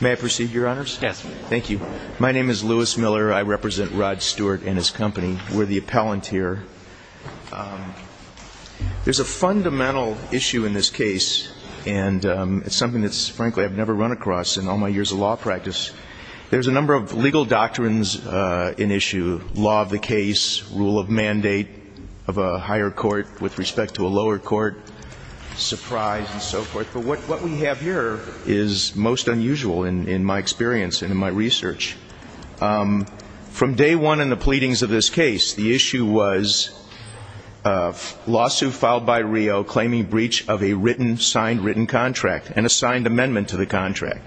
May I proceed, Your Honors? Yes, Mr. Stewart. Thank you. My name is Lewis Miller. I represent Rod Stewart and his company. We're the appellanteer. There's a fundamental issue in this case, and it's something that's, frankly, I've never run across in all my years of law practice. There's a number of legal doctrines in issue. Law of the case, rule of mandate of a higher court with respect to a lower court, surprise, and so forth. But what we have here is most unusual in my experience and in my research. From day one in the pleadings of this case, the issue was lawsuit filed by Rio claiming breach of a signed written contract and a signed amendment to the contract.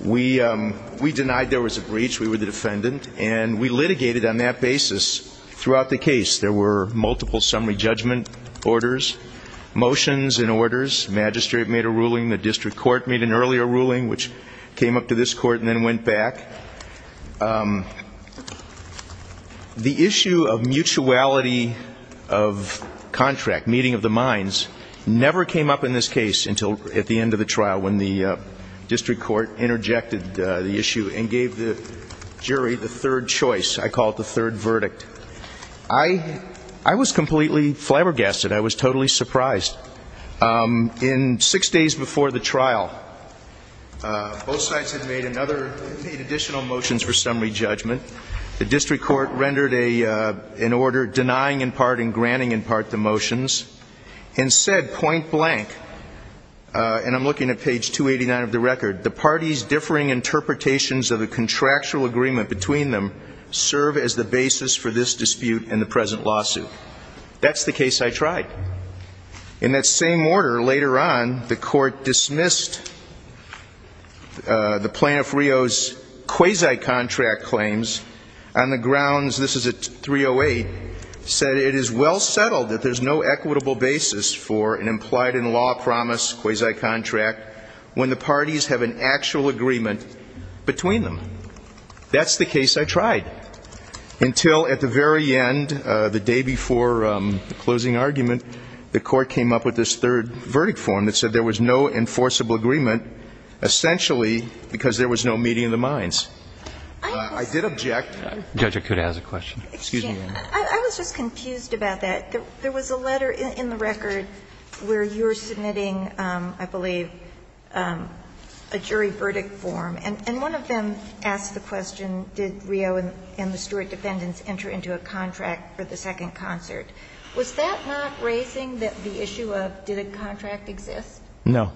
We denied there was a breach. We were the defendant. And we litigated on that basis throughout the case. There were multiple summary judgment orders, motions and orders. Magistrate made a ruling. The district court made an earlier ruling, which came up to this court and then went back. The issue of mutuality of contract, meeting of the minds, never came up in this case until at the end of the trial when the district court interjected the issue and gave the jury the third choice. I call it the third verdict. I was completely flabbergasted. I was totally surprised. In six days before the trial, both sides had made additional motions for summary judgment. The district court rendered an order denying in part and granting in part the motions and said point blank, and I'm looking at page 289 of the record, the party's differing interpretations of the contractual agreement between them serve as the basis for this dispute and the present lawsuit. That's the case I tried. In that same order, later on, the court dismissed the plaintiff Rio's quasi-contract claims on the grounds, this is at 308, said it is well settled that there's no equitable basis for an implied in law promise quasi-contract when the parties have an actual agreement between them. That's the case I tried. Until at the very end, the day before the closing argument, the court came up with this third verdict form that said there was no enforceable agreement essentially because there was no meeting of the minds. I did object. I was just confused about that. There was a letter in the record where you were submitting, I believe, a jury verdict form, and one of them asked the question, did Rio and the Stewart defendants enter into a contract for the second concert? Was that not raising the issue of did a contract exist? No.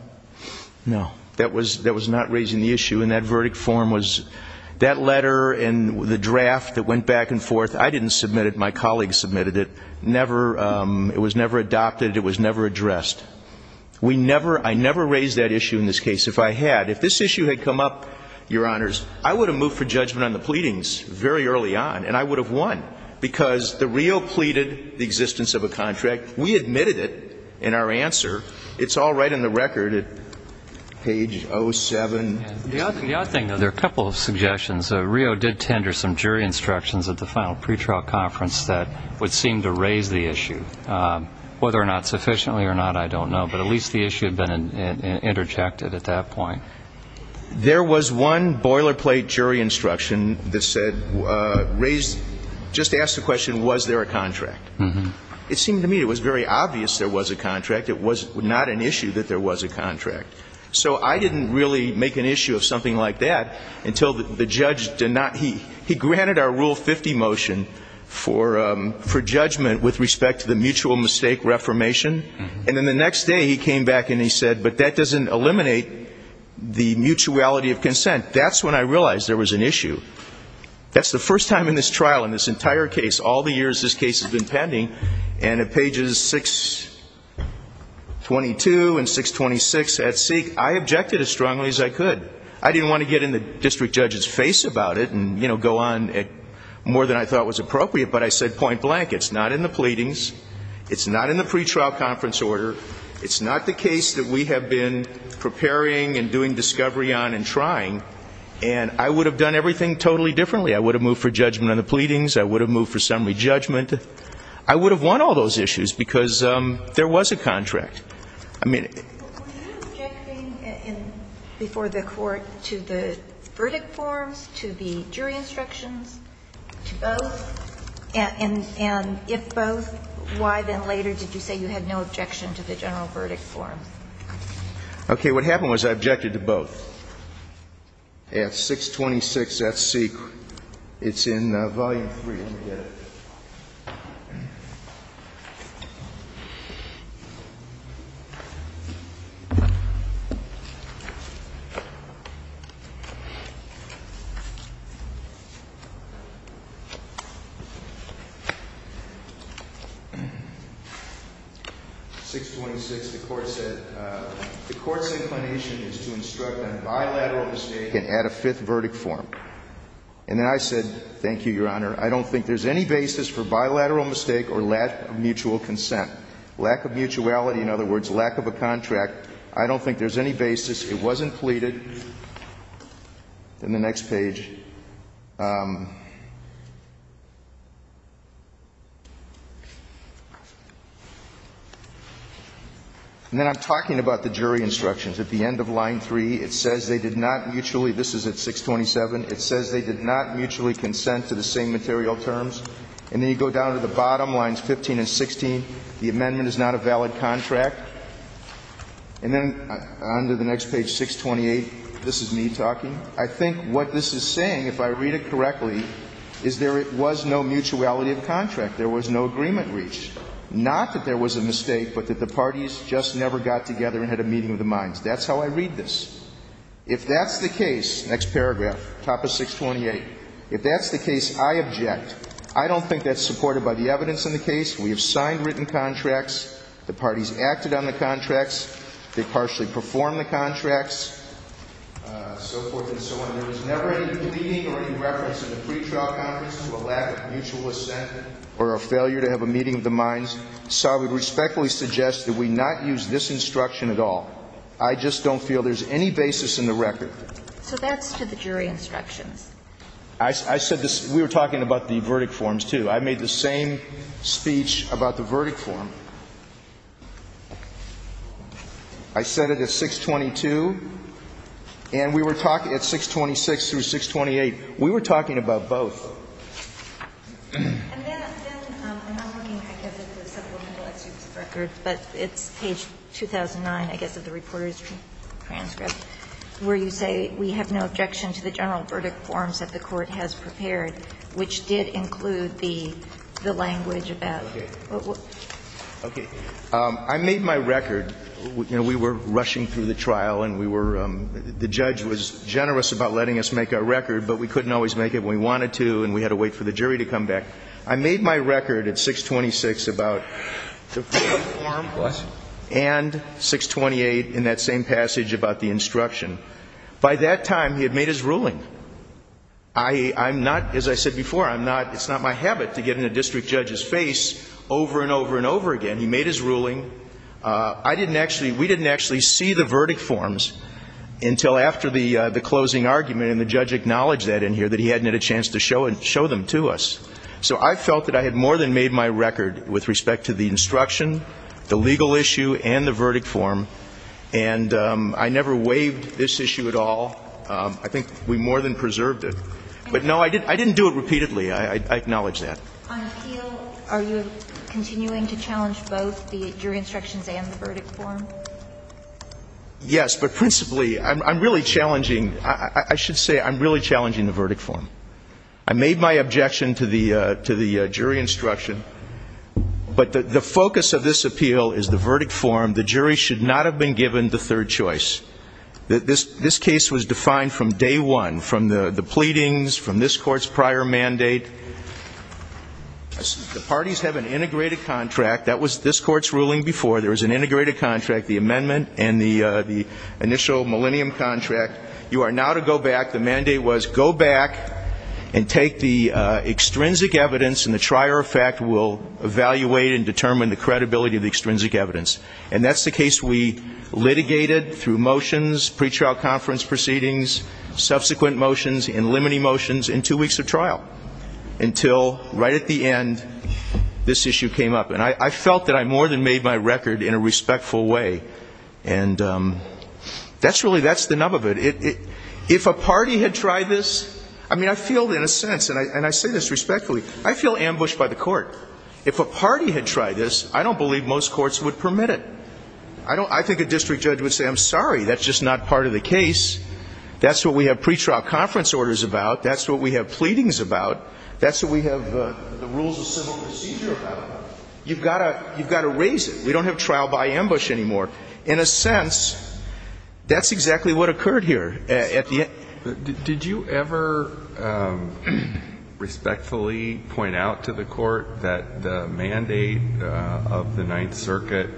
No. That was not raising the issue, and that verdict form was, that letter and the draft that went back and forth, I didn't submit it. My colleagues submitted it. It was never adopted. It was never addressed. We never, I never raised that issue in this case. If I had, if this issue had come up, Your Honors, I would have moved for judgment on the pleadings very early on, and I would have won because the Rio pleaded the existence of a contract. We admitted it in our answer. It's all right in the record at page 07. The odd thing, though, there are a couple of suggestions. Rio did tender some jury instructions at the final pretrial conference that would seem to raise the issue. Whether or not sufficiently or not, I don't know, but at least the issue had been interjected at that point. There was one boilerplate jury instruction that said, raised, just asked the question, was there a contract? It seemed to me it was very obvious there was a contract. It was not an issue that there was a contract. So I didn't really make an issue of something like that until the judge did not, he granted our Rule 50 motion for judgment with respect to the mutual mistake reformation, and then the next day he came back and he said, but that doesn't eliminate the mutuality of consent. That's when I realized there was an issue. That's the first time in this trial, in this entire case, all the years this case has been pending, and at pages 622 and 626 at seek, I objected as strongly as I didn't want to get in the district judge's face about it and go on more than I thought was appropriate, but I said point blank, it's not in the pleadings, it's not in the pretrial conference order, it's not the case that we have been preparing and doing discovery on and trying, and I would have done everything totally differently. I would have moved for judgment on the pleadings. I would have moved for summary judgment. I would have won all those issues, because there was a contract. I mean... Were you objecting before the court to the verdict forms, to the jury instructions, to both? And if both, why then later did you say you had no objection to the general verdict form? Okay. What happened was I objected to both. At 626 at seek, it's in volume three. At 626, the court said, the court's inclination is to instruct on bilateral mistake and add a fifth verdict form. And then I said, thank you, Your Honor, I don't think there's any basis for lack of mutuality. In other words, lack of a contract. I don't think there's any basis. It wasn't pleaded. In the next page. And then I'm talking about the jury instructions. At the end of line three, it says they did not mutually, this is at 627, it says they did not mutually consent to the same material terms. And then you go down to the bottom lines 15 and 16, the amendment is not a valid contract. And then on to the next page, 628, this is me talking. I think what this is saying, if I read it correctly, is there was no mutuality of contract. There was no agreement reached. Not that there was a mistake, but that the parties just never got together and had a meeting of the minds. That's how I read this. If that's the case, next paragraph, top of 628, if that's the case, I object. I don't think that's supported by the evidence in the case. We have signed written contracts. The parties acted on the contracts. They partially performed the contracts, so forth and so on. There was never any pleading or any reference in the pretrial conference to a lack of mutual assent or a failure to have a meeting of the minds. So I would respectfully suggest that we not use this basis in the record. So that's to the jury instructions. I said this. We were talking about the verdict forms, too. I made the same speech about the verdict form. I said it at 622, and we were talking at 626 through 628. We were talking about both. And then I'm looking, I guess, at the supplemental executive record, but it's page 2009, I guess, of the reporter's transcript, where you say, we have no objection to the general verdict forms that the Court has prepared, which did include the language about... Okay. Okay. I made my record. You know, we were rushing through the trial, and we were ‑‑ the judge was generous about letting us make our record, but we couldn't always make it when we wanted to, and we had to wait for the jury to come back. I made my record at 626 about ‑‑ and 628 in that same passage about the instruction. By that time, he had made his ruling. I'm not, as I said before, I'm not ‑‑ it's not my habit to get in a district judge's face over and over and over again. He made his ruling. I didn't actually ‑‑ we didn't actually see the verdict forms until after the closing argument, and the judge acknowledged that in here, that he hadn't had a chance to show them to us. So I felt that I had more than made my record with respect to the instruction, the legal issue, and the verdict form, and I never waived this issue at all. I think we more than preserved it. But, no, I didn't do it repeatedly. I acknowledge that. On appeal, are you continuing to challenge both the jury instructions and the verdict form? Yes, but principally, I'm really challenging ‑‑ I should say, I'm really challenging the verdict form. I made my objection to the jury instruction, but the focus of this appeal is the verdict form. The jury should not have been given the third choice. This case was defined from day one, from the pleadings, from this court's prior mandate. The parties have an integrated contract. That was this court's ruling before. There was an integrated contract, the amendment and the initial millennium contract. You are now to go back. The mandate was go back and take the extrinsic evidence, and the trier of fact will evaluate and determine the credibility of the extrinsic evidence. And that's the case we litigated through motions, pretrial conference proceedings, subsequent motions, and limiting motions in two weeks of trial, until right at the end, this issue came up. And I felt that I more than made my record in a respectful way. And that's really ‑‑ if a party had tried this ‑‑ I mean, I feel in a sense, and I say this respectfully, I feel ambushed by the court. If a party had tried this, I don't believe most courts would permit it. I think a district judge would say, I'm sorry, that's just not part of the case. That's what we have pretrial conference orders about. That's what we have pleadings about. That's what we have the rules of civil procedure about. You've got to raise it. We have to make it clear. At the end ‑‑ Did you ever respectfully point out to the court that the mandate of the Ninth Circuit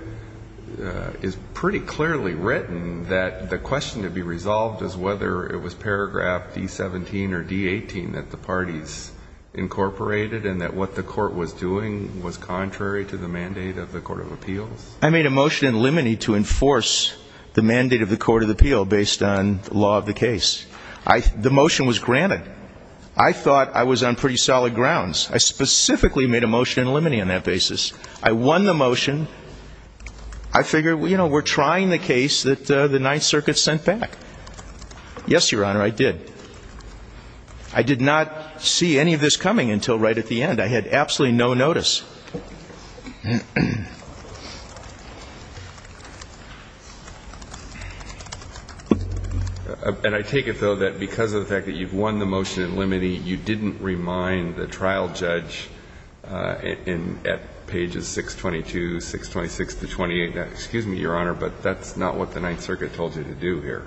is pretty clearly written, that the question to be resolved is whether it was paragraph D17 or D18 that the parties incorporated, and that what the court was doing was contrary to the mandate of the Court of Appeals? I made a motion in limine to enforce the mandate of the Court of Appeal based on the law of the case. The motion was granted. I thought I was on pretty solid grounds. I specifically made a motion in limine on that basis. I won the motion. I figured, you know, we're trying the case that the Ninth Circuit sent back. Yes, Your Honor, I did. I did not see any of this coming until right at the end. I had absolutely no notice. And I take it, though, that because of the fact that you've won the motion in limine, you didn't remind the trial judge at pages 622, 626 to 28, excuse me, Your Honor, but that's not what the Ninth Circuit told you to do here.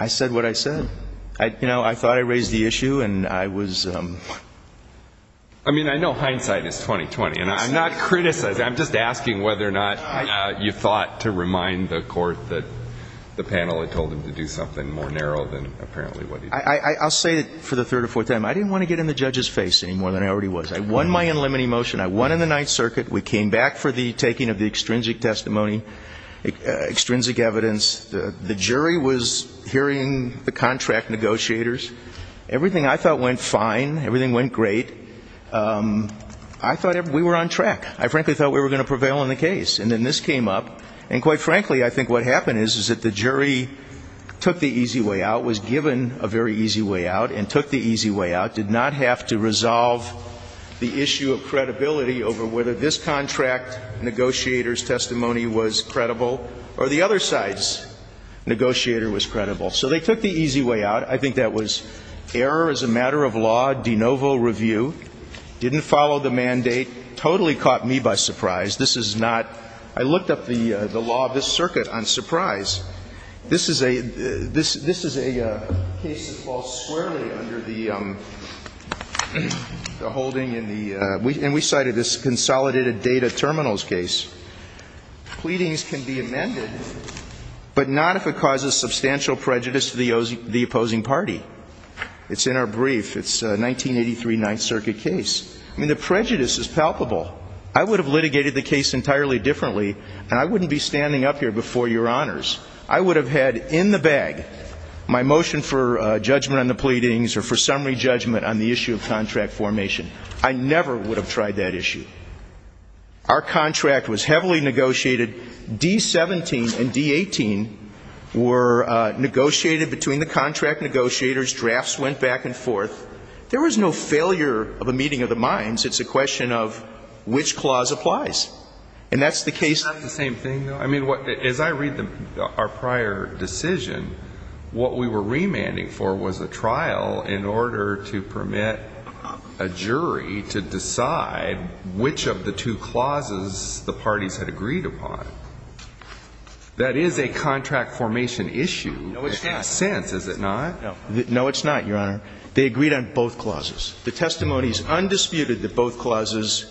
I said what I said. You know, I thought I raised the issue, and I was ‑‑ I mean, I know hindsight is 20-20, and I'm not criticizing. I'm just asking whether or not you thought to remind the court that the panel had told him to do something more narrow than apparently what he did. I'll say it for the third or fourth time. I didn't want to get in the judge's face any more than I already was. I won my in limine motion. I won in the Ninth Circuit. We came back for the taking of the extrinsic testimony, extrinsic evidence. The jury was hearing the contract negotiators. Everything I thought went fine. Everything went great. I thought we were on track. I frankly thought we were going to prevail in the case. And then this came up. And quite frankly, I think what happened is that the jury took the easy way out, was given a very easy way out, and took the easy way out, did not have to resolve the issue of whether this contract negotiator's testimony was credible or the other side's negotiator was credible. So they took the easy way out. I think that was error as a matter of law, de novo review, didn't follow the mandate, totally caught me by surprise. This is not ‑‑ I looked up the law of this circuit on surprise. This is a case that falls squarely under the holding in the ‑‑ and we cited this consolidated data terminals case. Pleadings can be amended, but not if it causes substantial prejudice to the opposing party. It's in our brief. It's a 1983 Ninth Circuit case. I mean, the prejudice is palpable. I would have litigated the case entirely differently, and I wouldn't be standing up here before your honors. I would have had in the bag my motion for judgment on the pleadings or for summary judgment on the issue of contract formation. I never would have tried that issue. Our contract was heavily negotiated. D17 and D18 were negotiated between the contract negotiators. Drafts went back and forth. There was no failure of a meeting of the minds. It's a question of which clause applies. And that's the case ‑‑ It's not the same thing, though. I mean, as I read our prior decision, what we were remanding for was a trial in order to permit a jury to decide which of the two clauses the parties had agreed upon. That is a contract formation issue. No, it's not. It makes sense, is it not? No, it's not, Your Honor. They agreed on both clauses. The testimony is undisputed that both clauses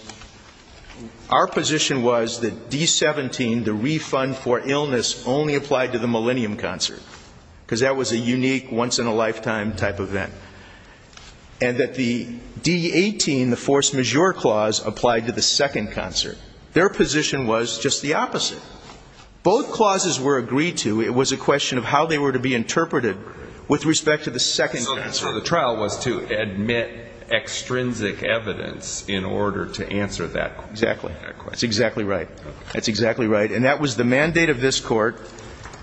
‑‑ our position was that D17, the refund for illness, only applied to the Millennium Concert, because that was a unique, once‑in‑a‑lifetime type event, and that the D18, the force majeure clause, applied to the Second Concert. Their position was just the opposite. Both clauses were agreed to. It was a question of how they were to be interpreted with respect to the Second Concert. So the trial was to admit extrinsic evidence in order to answer that question. That's exactly right. That's exactly right. And that was the mandate of this court.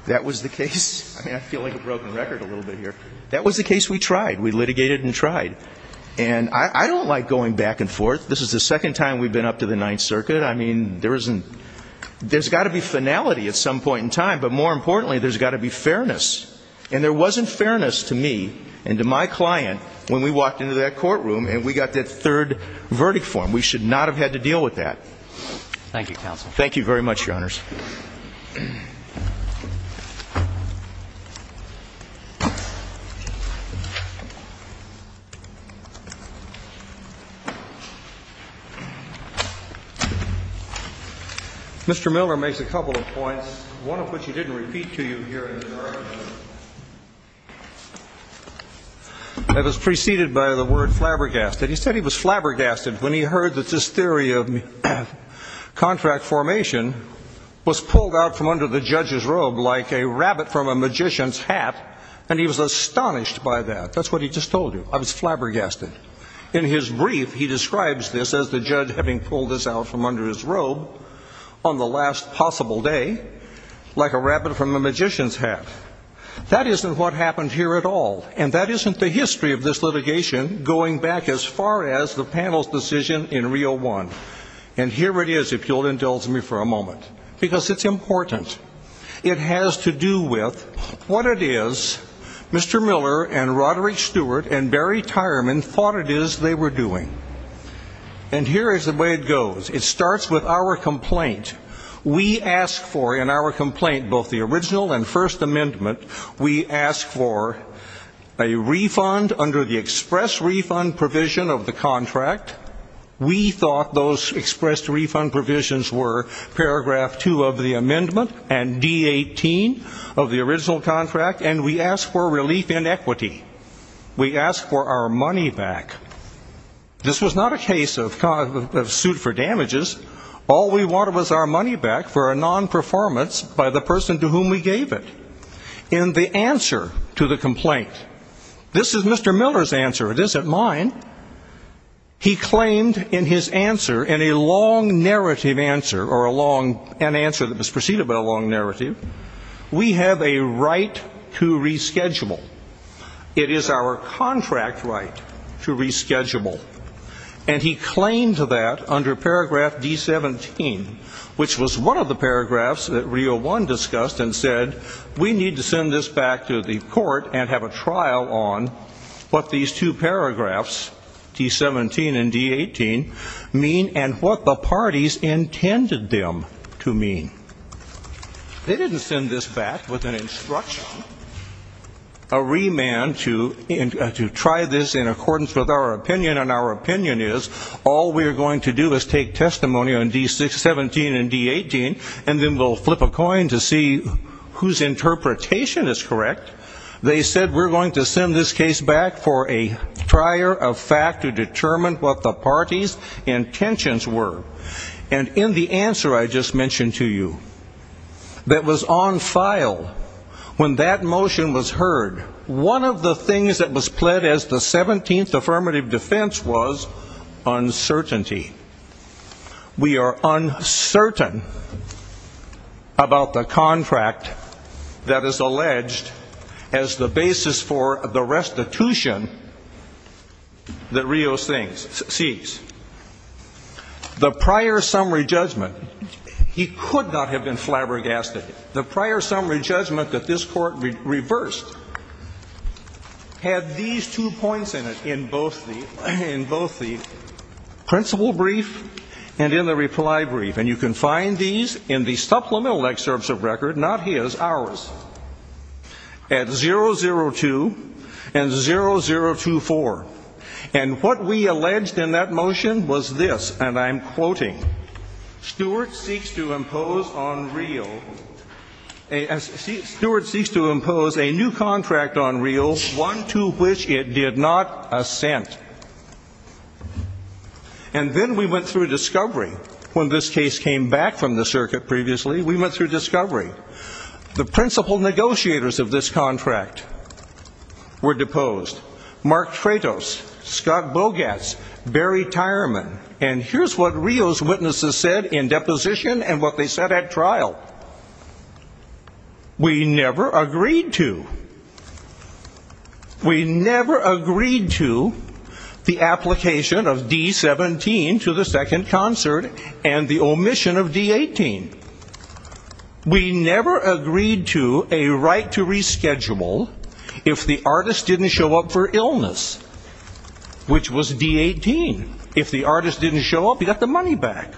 That was the case ‑‑ I feel like a broken record a little bit here. That was the case we tried. We litigated and tried. And I don't like going back and forth. This is the second time we've been up to the Ninth Circuit. I mean, there's got to be finality at some point in time, but more importantly, there's got to be fairness. And there wasn't fairness to me and to my client when we walked into that courtroom and we got that third verdict for him. We should not have had to deal with that. Thank you, counsel. Thank you very much, Your Honors. Mr. Miller makes a couple of points, one of which he didn't repeat to you here in the courtroom. I was preceded by the word flabbergasted. He said he was flabbergasted when he heard that this theory of contract formation was pulled out from under the judge's robe like a rabbit from a magician's hat, and he was astonished by that. That's what he just told you. I was flabbergasted. In his brief, he describes this as the judge having pulled this out from under his robe on the last possible day like a rabbit from a magician's hat. That isn't what happened here at all, and that isn't the history of this litigation going back as far as the panel's decision in Rio One. And here it is, if you'll indulge me for a moment, because it's important. It has to do with what it is Mr. Miller and Roderick Stewart and Barry Tyerman thought it is they were doing. And here is the way it goes. It starts with our complaint. We ask for in our complaint, both the original and First Amendment, we ask for a refund under the express refund provision of the contract. We thought those expressed refund provisions were paragraph two of the amendment and D-18 of the original contract, and we ask for relief in equity. We ask for our money back. This was not a case of suit for damages. All we wanted was our money back for a non-performance by the person to whom we gave it. In the answer to the complaint, this is Mr. Miller's answer. It isn't mine. He claimed in his answer, in a long narrative answer, or an answer that we have a right to reschedule. It is our contract right to reschedule. And he claimed that under paragraph D-17, which was one of the paragraphs that Rio One discussed and said we need to send this back to the court and have a trial on what these two paragraphs, D-17 and D-18, mean and what the parties intended them to mean. They didn't send this back, with an instruction, a remand to try this in accordance with our opinion, and our opinion is all we're going to do is take testimony on D-17 and D-18, and then we'll flip a coin to see whose interpretation is correct. They said we're going to send this case back for a trier of fact to determine what the parties' intentions were. And in the answer I just mentioned to you, that was on file, when that motion was heard, one of the things that was pled as the 17th affirmative defense was uncertainty. We are uncertain about the contract that is alleged as the basis for the restitution that Rio's thing, seeks. The prior summary judgment, he could not have been flabbergasted. The prior summary judgment that this court reversed had these two points in it, in both the principle brief and in the reply brief. And you can find these in the supplemental excerpts of record, not his, ours, at 002 and 0024. And what we alleged in that motion was this, and I'm quoting, Stewart seeks to impose on Rio, Stewart seeks to impose a new contract on Rio, one to which it did not assent. And then we went through discovery, when this case came back from the circuit previously, we went through discovery. The principal negotiators of this contract were deposed, Mark Freitos, Scott Bogatz, Barry Tyerman, and here's what Rio's witnesses said in deposition and what they said at trial. We never agreed to. We never agreed to the application of D-17 to the second concert and the omission of D-18. We never agreed to a right to reschedule if the artist didn't show up for illness, which was D-18. If the artist didn't show up, he got the money back.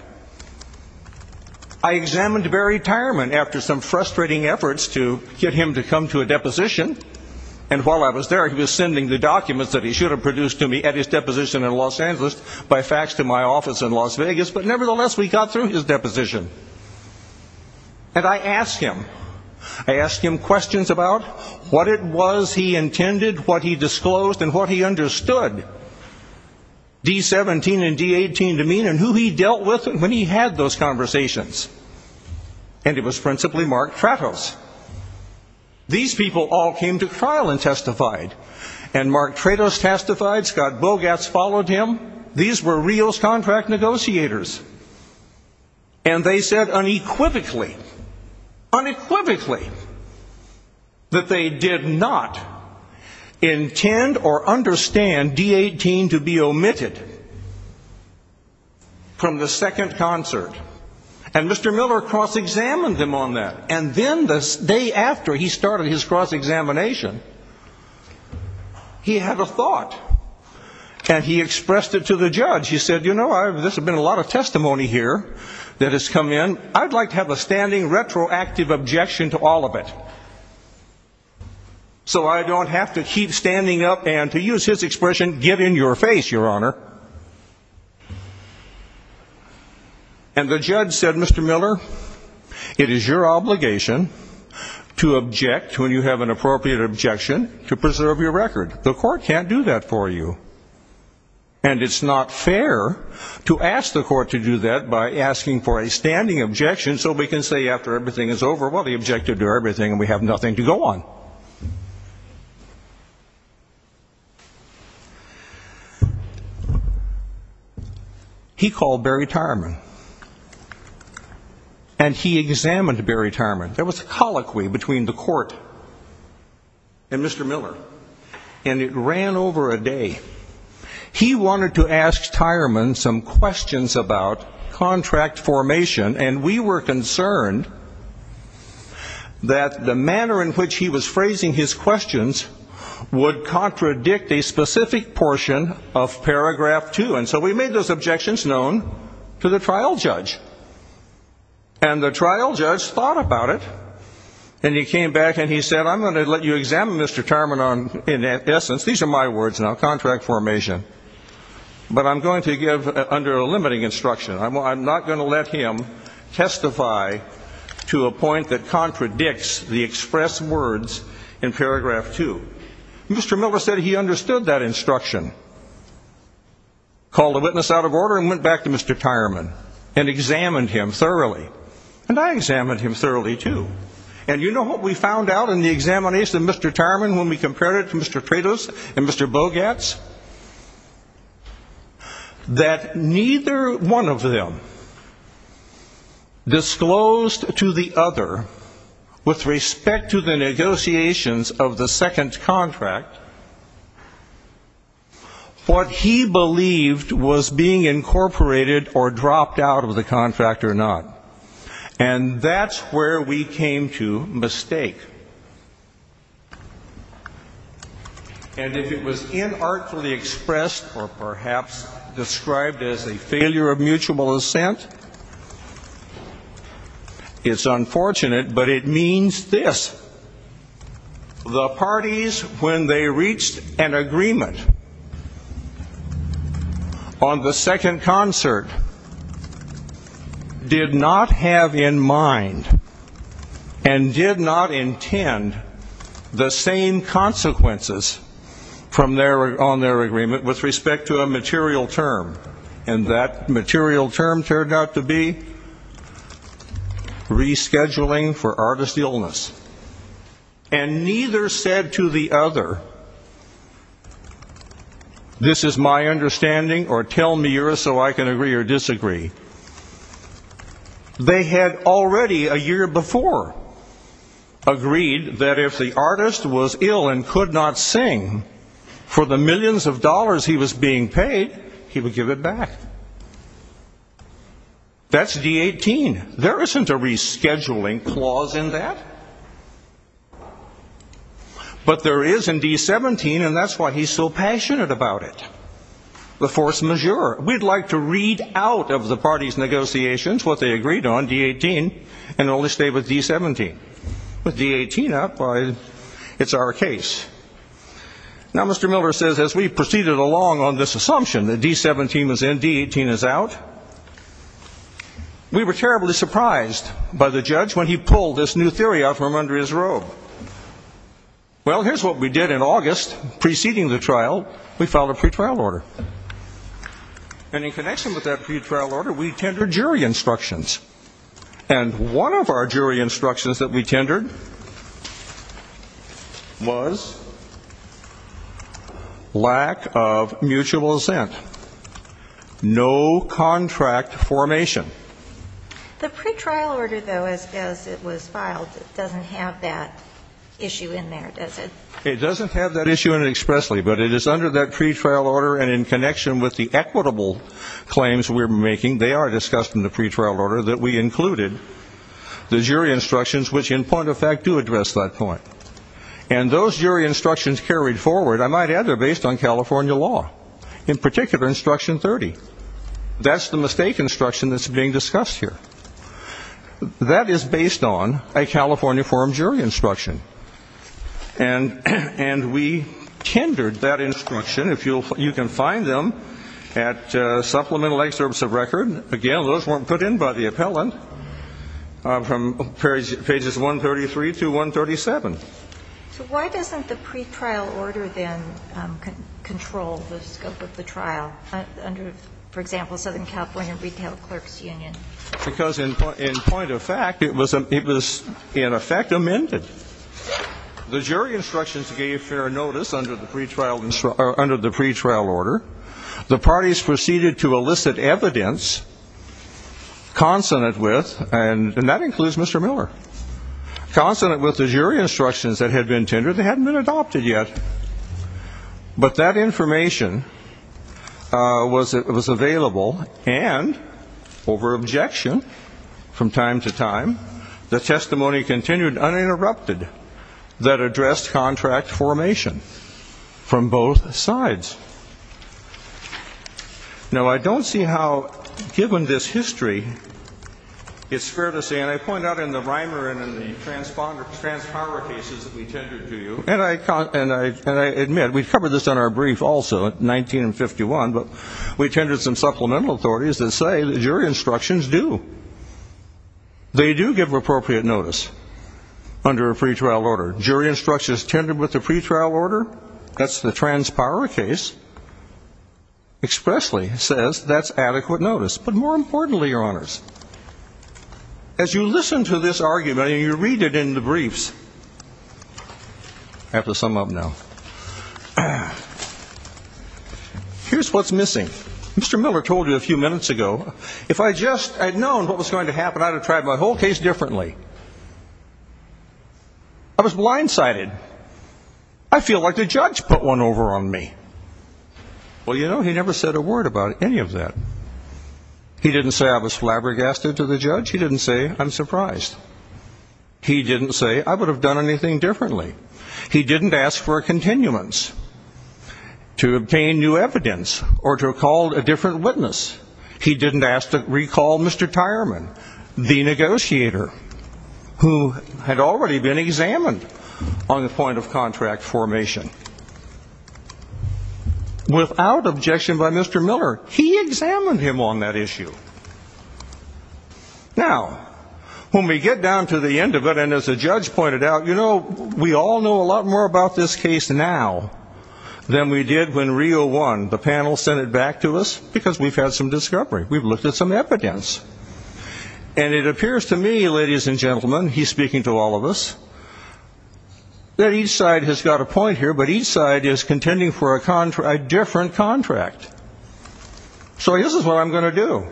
I examined Barry Tyerman after some frustrating efforts to get him to come to a deposition, and while I was there, he was sending the documents that he should have produced to me at his deposition in Los Angeles by fax to my office in Las Vegas, but nevertheless, we got through his deposition. And I asked him. I asked him questions about what it was he intended, what he disclosed, and what he understood D-17 and D-18 to mean and who he dealt with when he had those conversations. And it was principally Mark Freitos. These people all came to trial and testified. And Mark Freitos testified. Scott Bogas followed him. These were real contract negotiators. And they said unequivocally, unequivocally, that they did not intend or understand D-18 to be omitted from the second concert. And Mr. Miller cross-examined him on that. And then the day after he started his cross-examination, he had a thought. And he expressed it to the judge. He said, you know, this has been a lot of testimony here that has come in. I'd like to have a standing retroactive objection to all of it so I don't have to keep standing up and, to use his expression, give in your face, Your Honor. And the judge said, Mr. Miller, it is your obligation to object when you have an appropriate objection to preserve your record. The court can't do that for you. And it's not fair to ask the court to do that by asking for a standing objection so we can say after everything is over, well, the objective to everything and have nothing to go on. He called Barry Tireman. And he examined Barry Tireman. There was a colloquy between the court and Mr. Miller. And it ran over a day. He wanted to ask Tireman some questions about contract formation. And we were concerned that the manner in which he was phrasing his questions would contradict a specific portion of paragraph two. And so we made those objections known to the trial judge. And the trial judge thought about it. And he came back and he said, I'm going to let you examine Mr. Tireman on, in essence, these are my words now, contract formation. But I'm going to give under a limiting instruction. I'm not going to let him testify to a point that contradicts the expressed words in paragraph two. Mr. Miller said he understood that instruction. Called the witness out of order and went back to Mr. Tireman and examined him thoroughly. And I examined him thoroughly too. And you know what we found out in the examination of Mr. Tireman when we compared it to Mr. Traitos and Mr. Bogatz? That neither one of them disclosed to the other with respect to the negotiations of the second contract what he believed was being incorporated or dropped out of the contract or not. And that's where we came to mistake. And if it was inartfully expressed or perhaps described as a failure of mutual assent, it's unfortunate, but it means this. The parties, when they reached an agreement on the second concert, did not have in mind and did not intend the same consequences from their, on their agreement with respect to a material term. And that material term turned out to be rescheduling for artist illness. And neither said to the other that this is my understanding or tell me so I can agree or disagree. They had already a year before agreed that if the artist was ill and could not sing for the millions of dollars he was being paid, he would give it back. That's D-18. There isn't a rescheduling clause in that. But there is in D-17 and that's why he's so passionate about it. The force majeure. We'd like to read out of the party's negotiations what they agreed on, D-18, and only stay with D-17. With D-18 up, it's our case. Now Mr. Miller says as we proceeded along on this assumption that D-17 was in, D-18 is out, we were terribly surprised by the judge when he drove. Well here's what we did in August preceding the trial. We filed a pretrial order. And in connection with that pretrial order we tendered jury instructions. And one of our jury instructions that we tendered was lack of mutual assent. No contract formation. The pretrial order though, as it was filed, doesn't have that issue in there, does it? It doesn't have that issue in it expressly, but it is under that pretrial order and in connection with the equitable claims we're making, they are discussed in the pretrial order, that we included the jury instructions which in point of fact do address that point. And those jury instructions carried forward, I might add, are based on California law. In particular, instruction 30. That's the mistake instruction that's being discussed here. That is based on a California forum jury instruction. And we tendered that instruction. You can find them at Supplemental Excerpts of Record. Again, those weren't put in by the appellant from pages 133 to 137. So why doesn't the pretrial order then control the scope of the trial under, for example, Southern California Retail Clerks Union? Because in point of fact, it was in effect amended. The jury instructions gave fair notice under the pretrial order. The parties proceeded to elicit evidence consonant with, and that includes Mr. Miller, consonant with the jury instructions that had been tendered that hadn't been adopted yet. But that information was available and over objection from time to time, the testimony continued uninterrupted that addressed contract formation from both sides. Now, I don't see how, given this history, it's fair to say, and I point out in the Reimer and in the transponder, transpower cases that we tendered to you, and I, and I, and I admit we've covered this in our brief also in 1951, but we tended some supplemental authorities that say the jury instructions do. They do give appropriate notice under a pretrial order. Jury instructions tendered with the pretrial order, that's the transpower case, expressly says that's adequate notice. But more importantly, your honors, as you listen to this argument and you read it in the briefs, I have to sum up now. Here's what's missing. Mr. Miller told you a few minutes ago, if I just had known what was going to happen, I'd have tried my whole case differently. I was blindsided. I feel like the judge put one over on me. Well, you know, he never said a word about any of that. He didn't say I was flabbergasted to the judge. He didn't say I'm surprised. He didn't say I would have done anything differently. He didn't ask for a continuance to obtain new evidence or to call a different witness. He didn't ask to recall Mr. Tyerman, the negotiator. Who had already been examined on the point of contract formation. Without objection by Mr. Miller, he examined him on that issue. Now, when we get down to the end of it, and as the judge pointed out, you know, we all know a lot more about this case now than we did when Rio won. The panel sent it back to us because we've had some discovery. We've looked at some evidence. And it appears to me, ladies and gentlemen, he's speaking to all of us, that each side has got a point here, but each side is contending for a different contract. So this is what I'm going to do.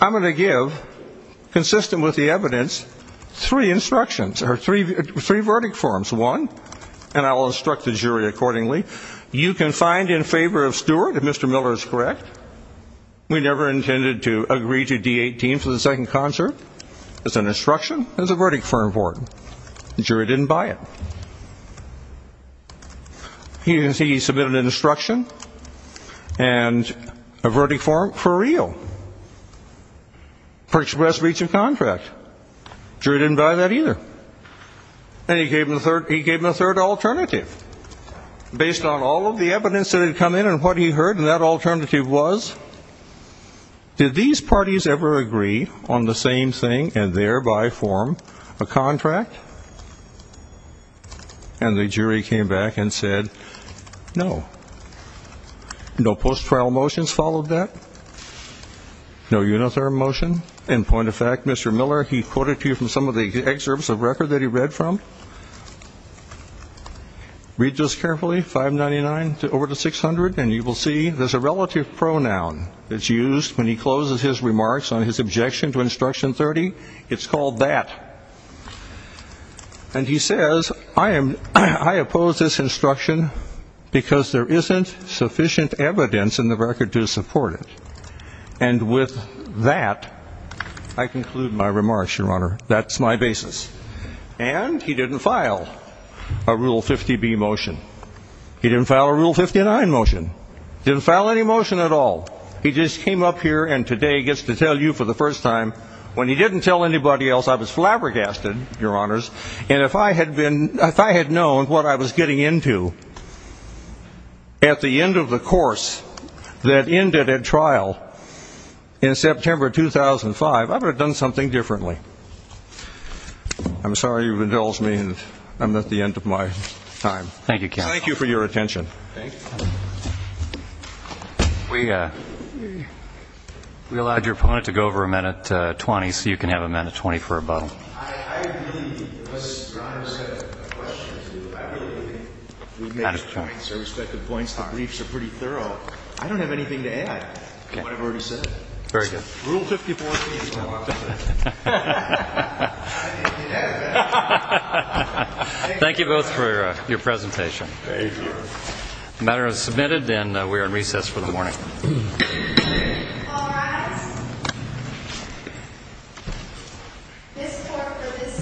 I'm going to give, consistent with the evidence, three instructions or three verdict forms. One, and I will instruct the jury accordingly, you can find in favor of Stewart, if Mr. Miller is correct. We never intended to agree to D-18 for the second concert. It's an instruction. It's a verdict form for him. The jury didn't buy it. He submitted an instruction and a verdict form for Rio. For express breach of contract. Jury didn't buy that either. And he gave him a third, he gave him a third alternative. Based on all of the evidence that had come in and what he heard, and that alternative was, did these parties ever agree on the same thing and thereby form a contract? And the jury came back and said, no. No post-trial motions followed that. No uniform motion. In point of fact, Mr. Miller, he quoted to you from some of the records that he read from. Read this carefully, 599 over to 600, and you will see there's a relative pronoun that's used when he closes his remarks on his objection to instruction 30. It's called that. And he says, I am, I oppose this instruction because there isn't sufficient evidence in the record to support it. And with that, I conclude my remarks, your honor. That's my basis. And he didn't file a Rule 50B motion. He didn't file a Rule 59 motion. Didn't file any motion at all. He just came up here and today gets to tell you for the first time, when he didn't tell anybody else, I was flabbergasted, your honors. And if I had been, if I had known what I was getting into at the end of the course that ended at trial in September of 2005, I would have done something differently. I'm sorry you've indulged me and I'm at the end of my time. Thank you for your attention. We, uh, we allowed your opponent to go over a minute 20 so you can have a minute 20 for a very good rule. Thank you both for your presentation. The matter is submitted and we are in recess for the morning. All rise. This court for this session stands adjourned.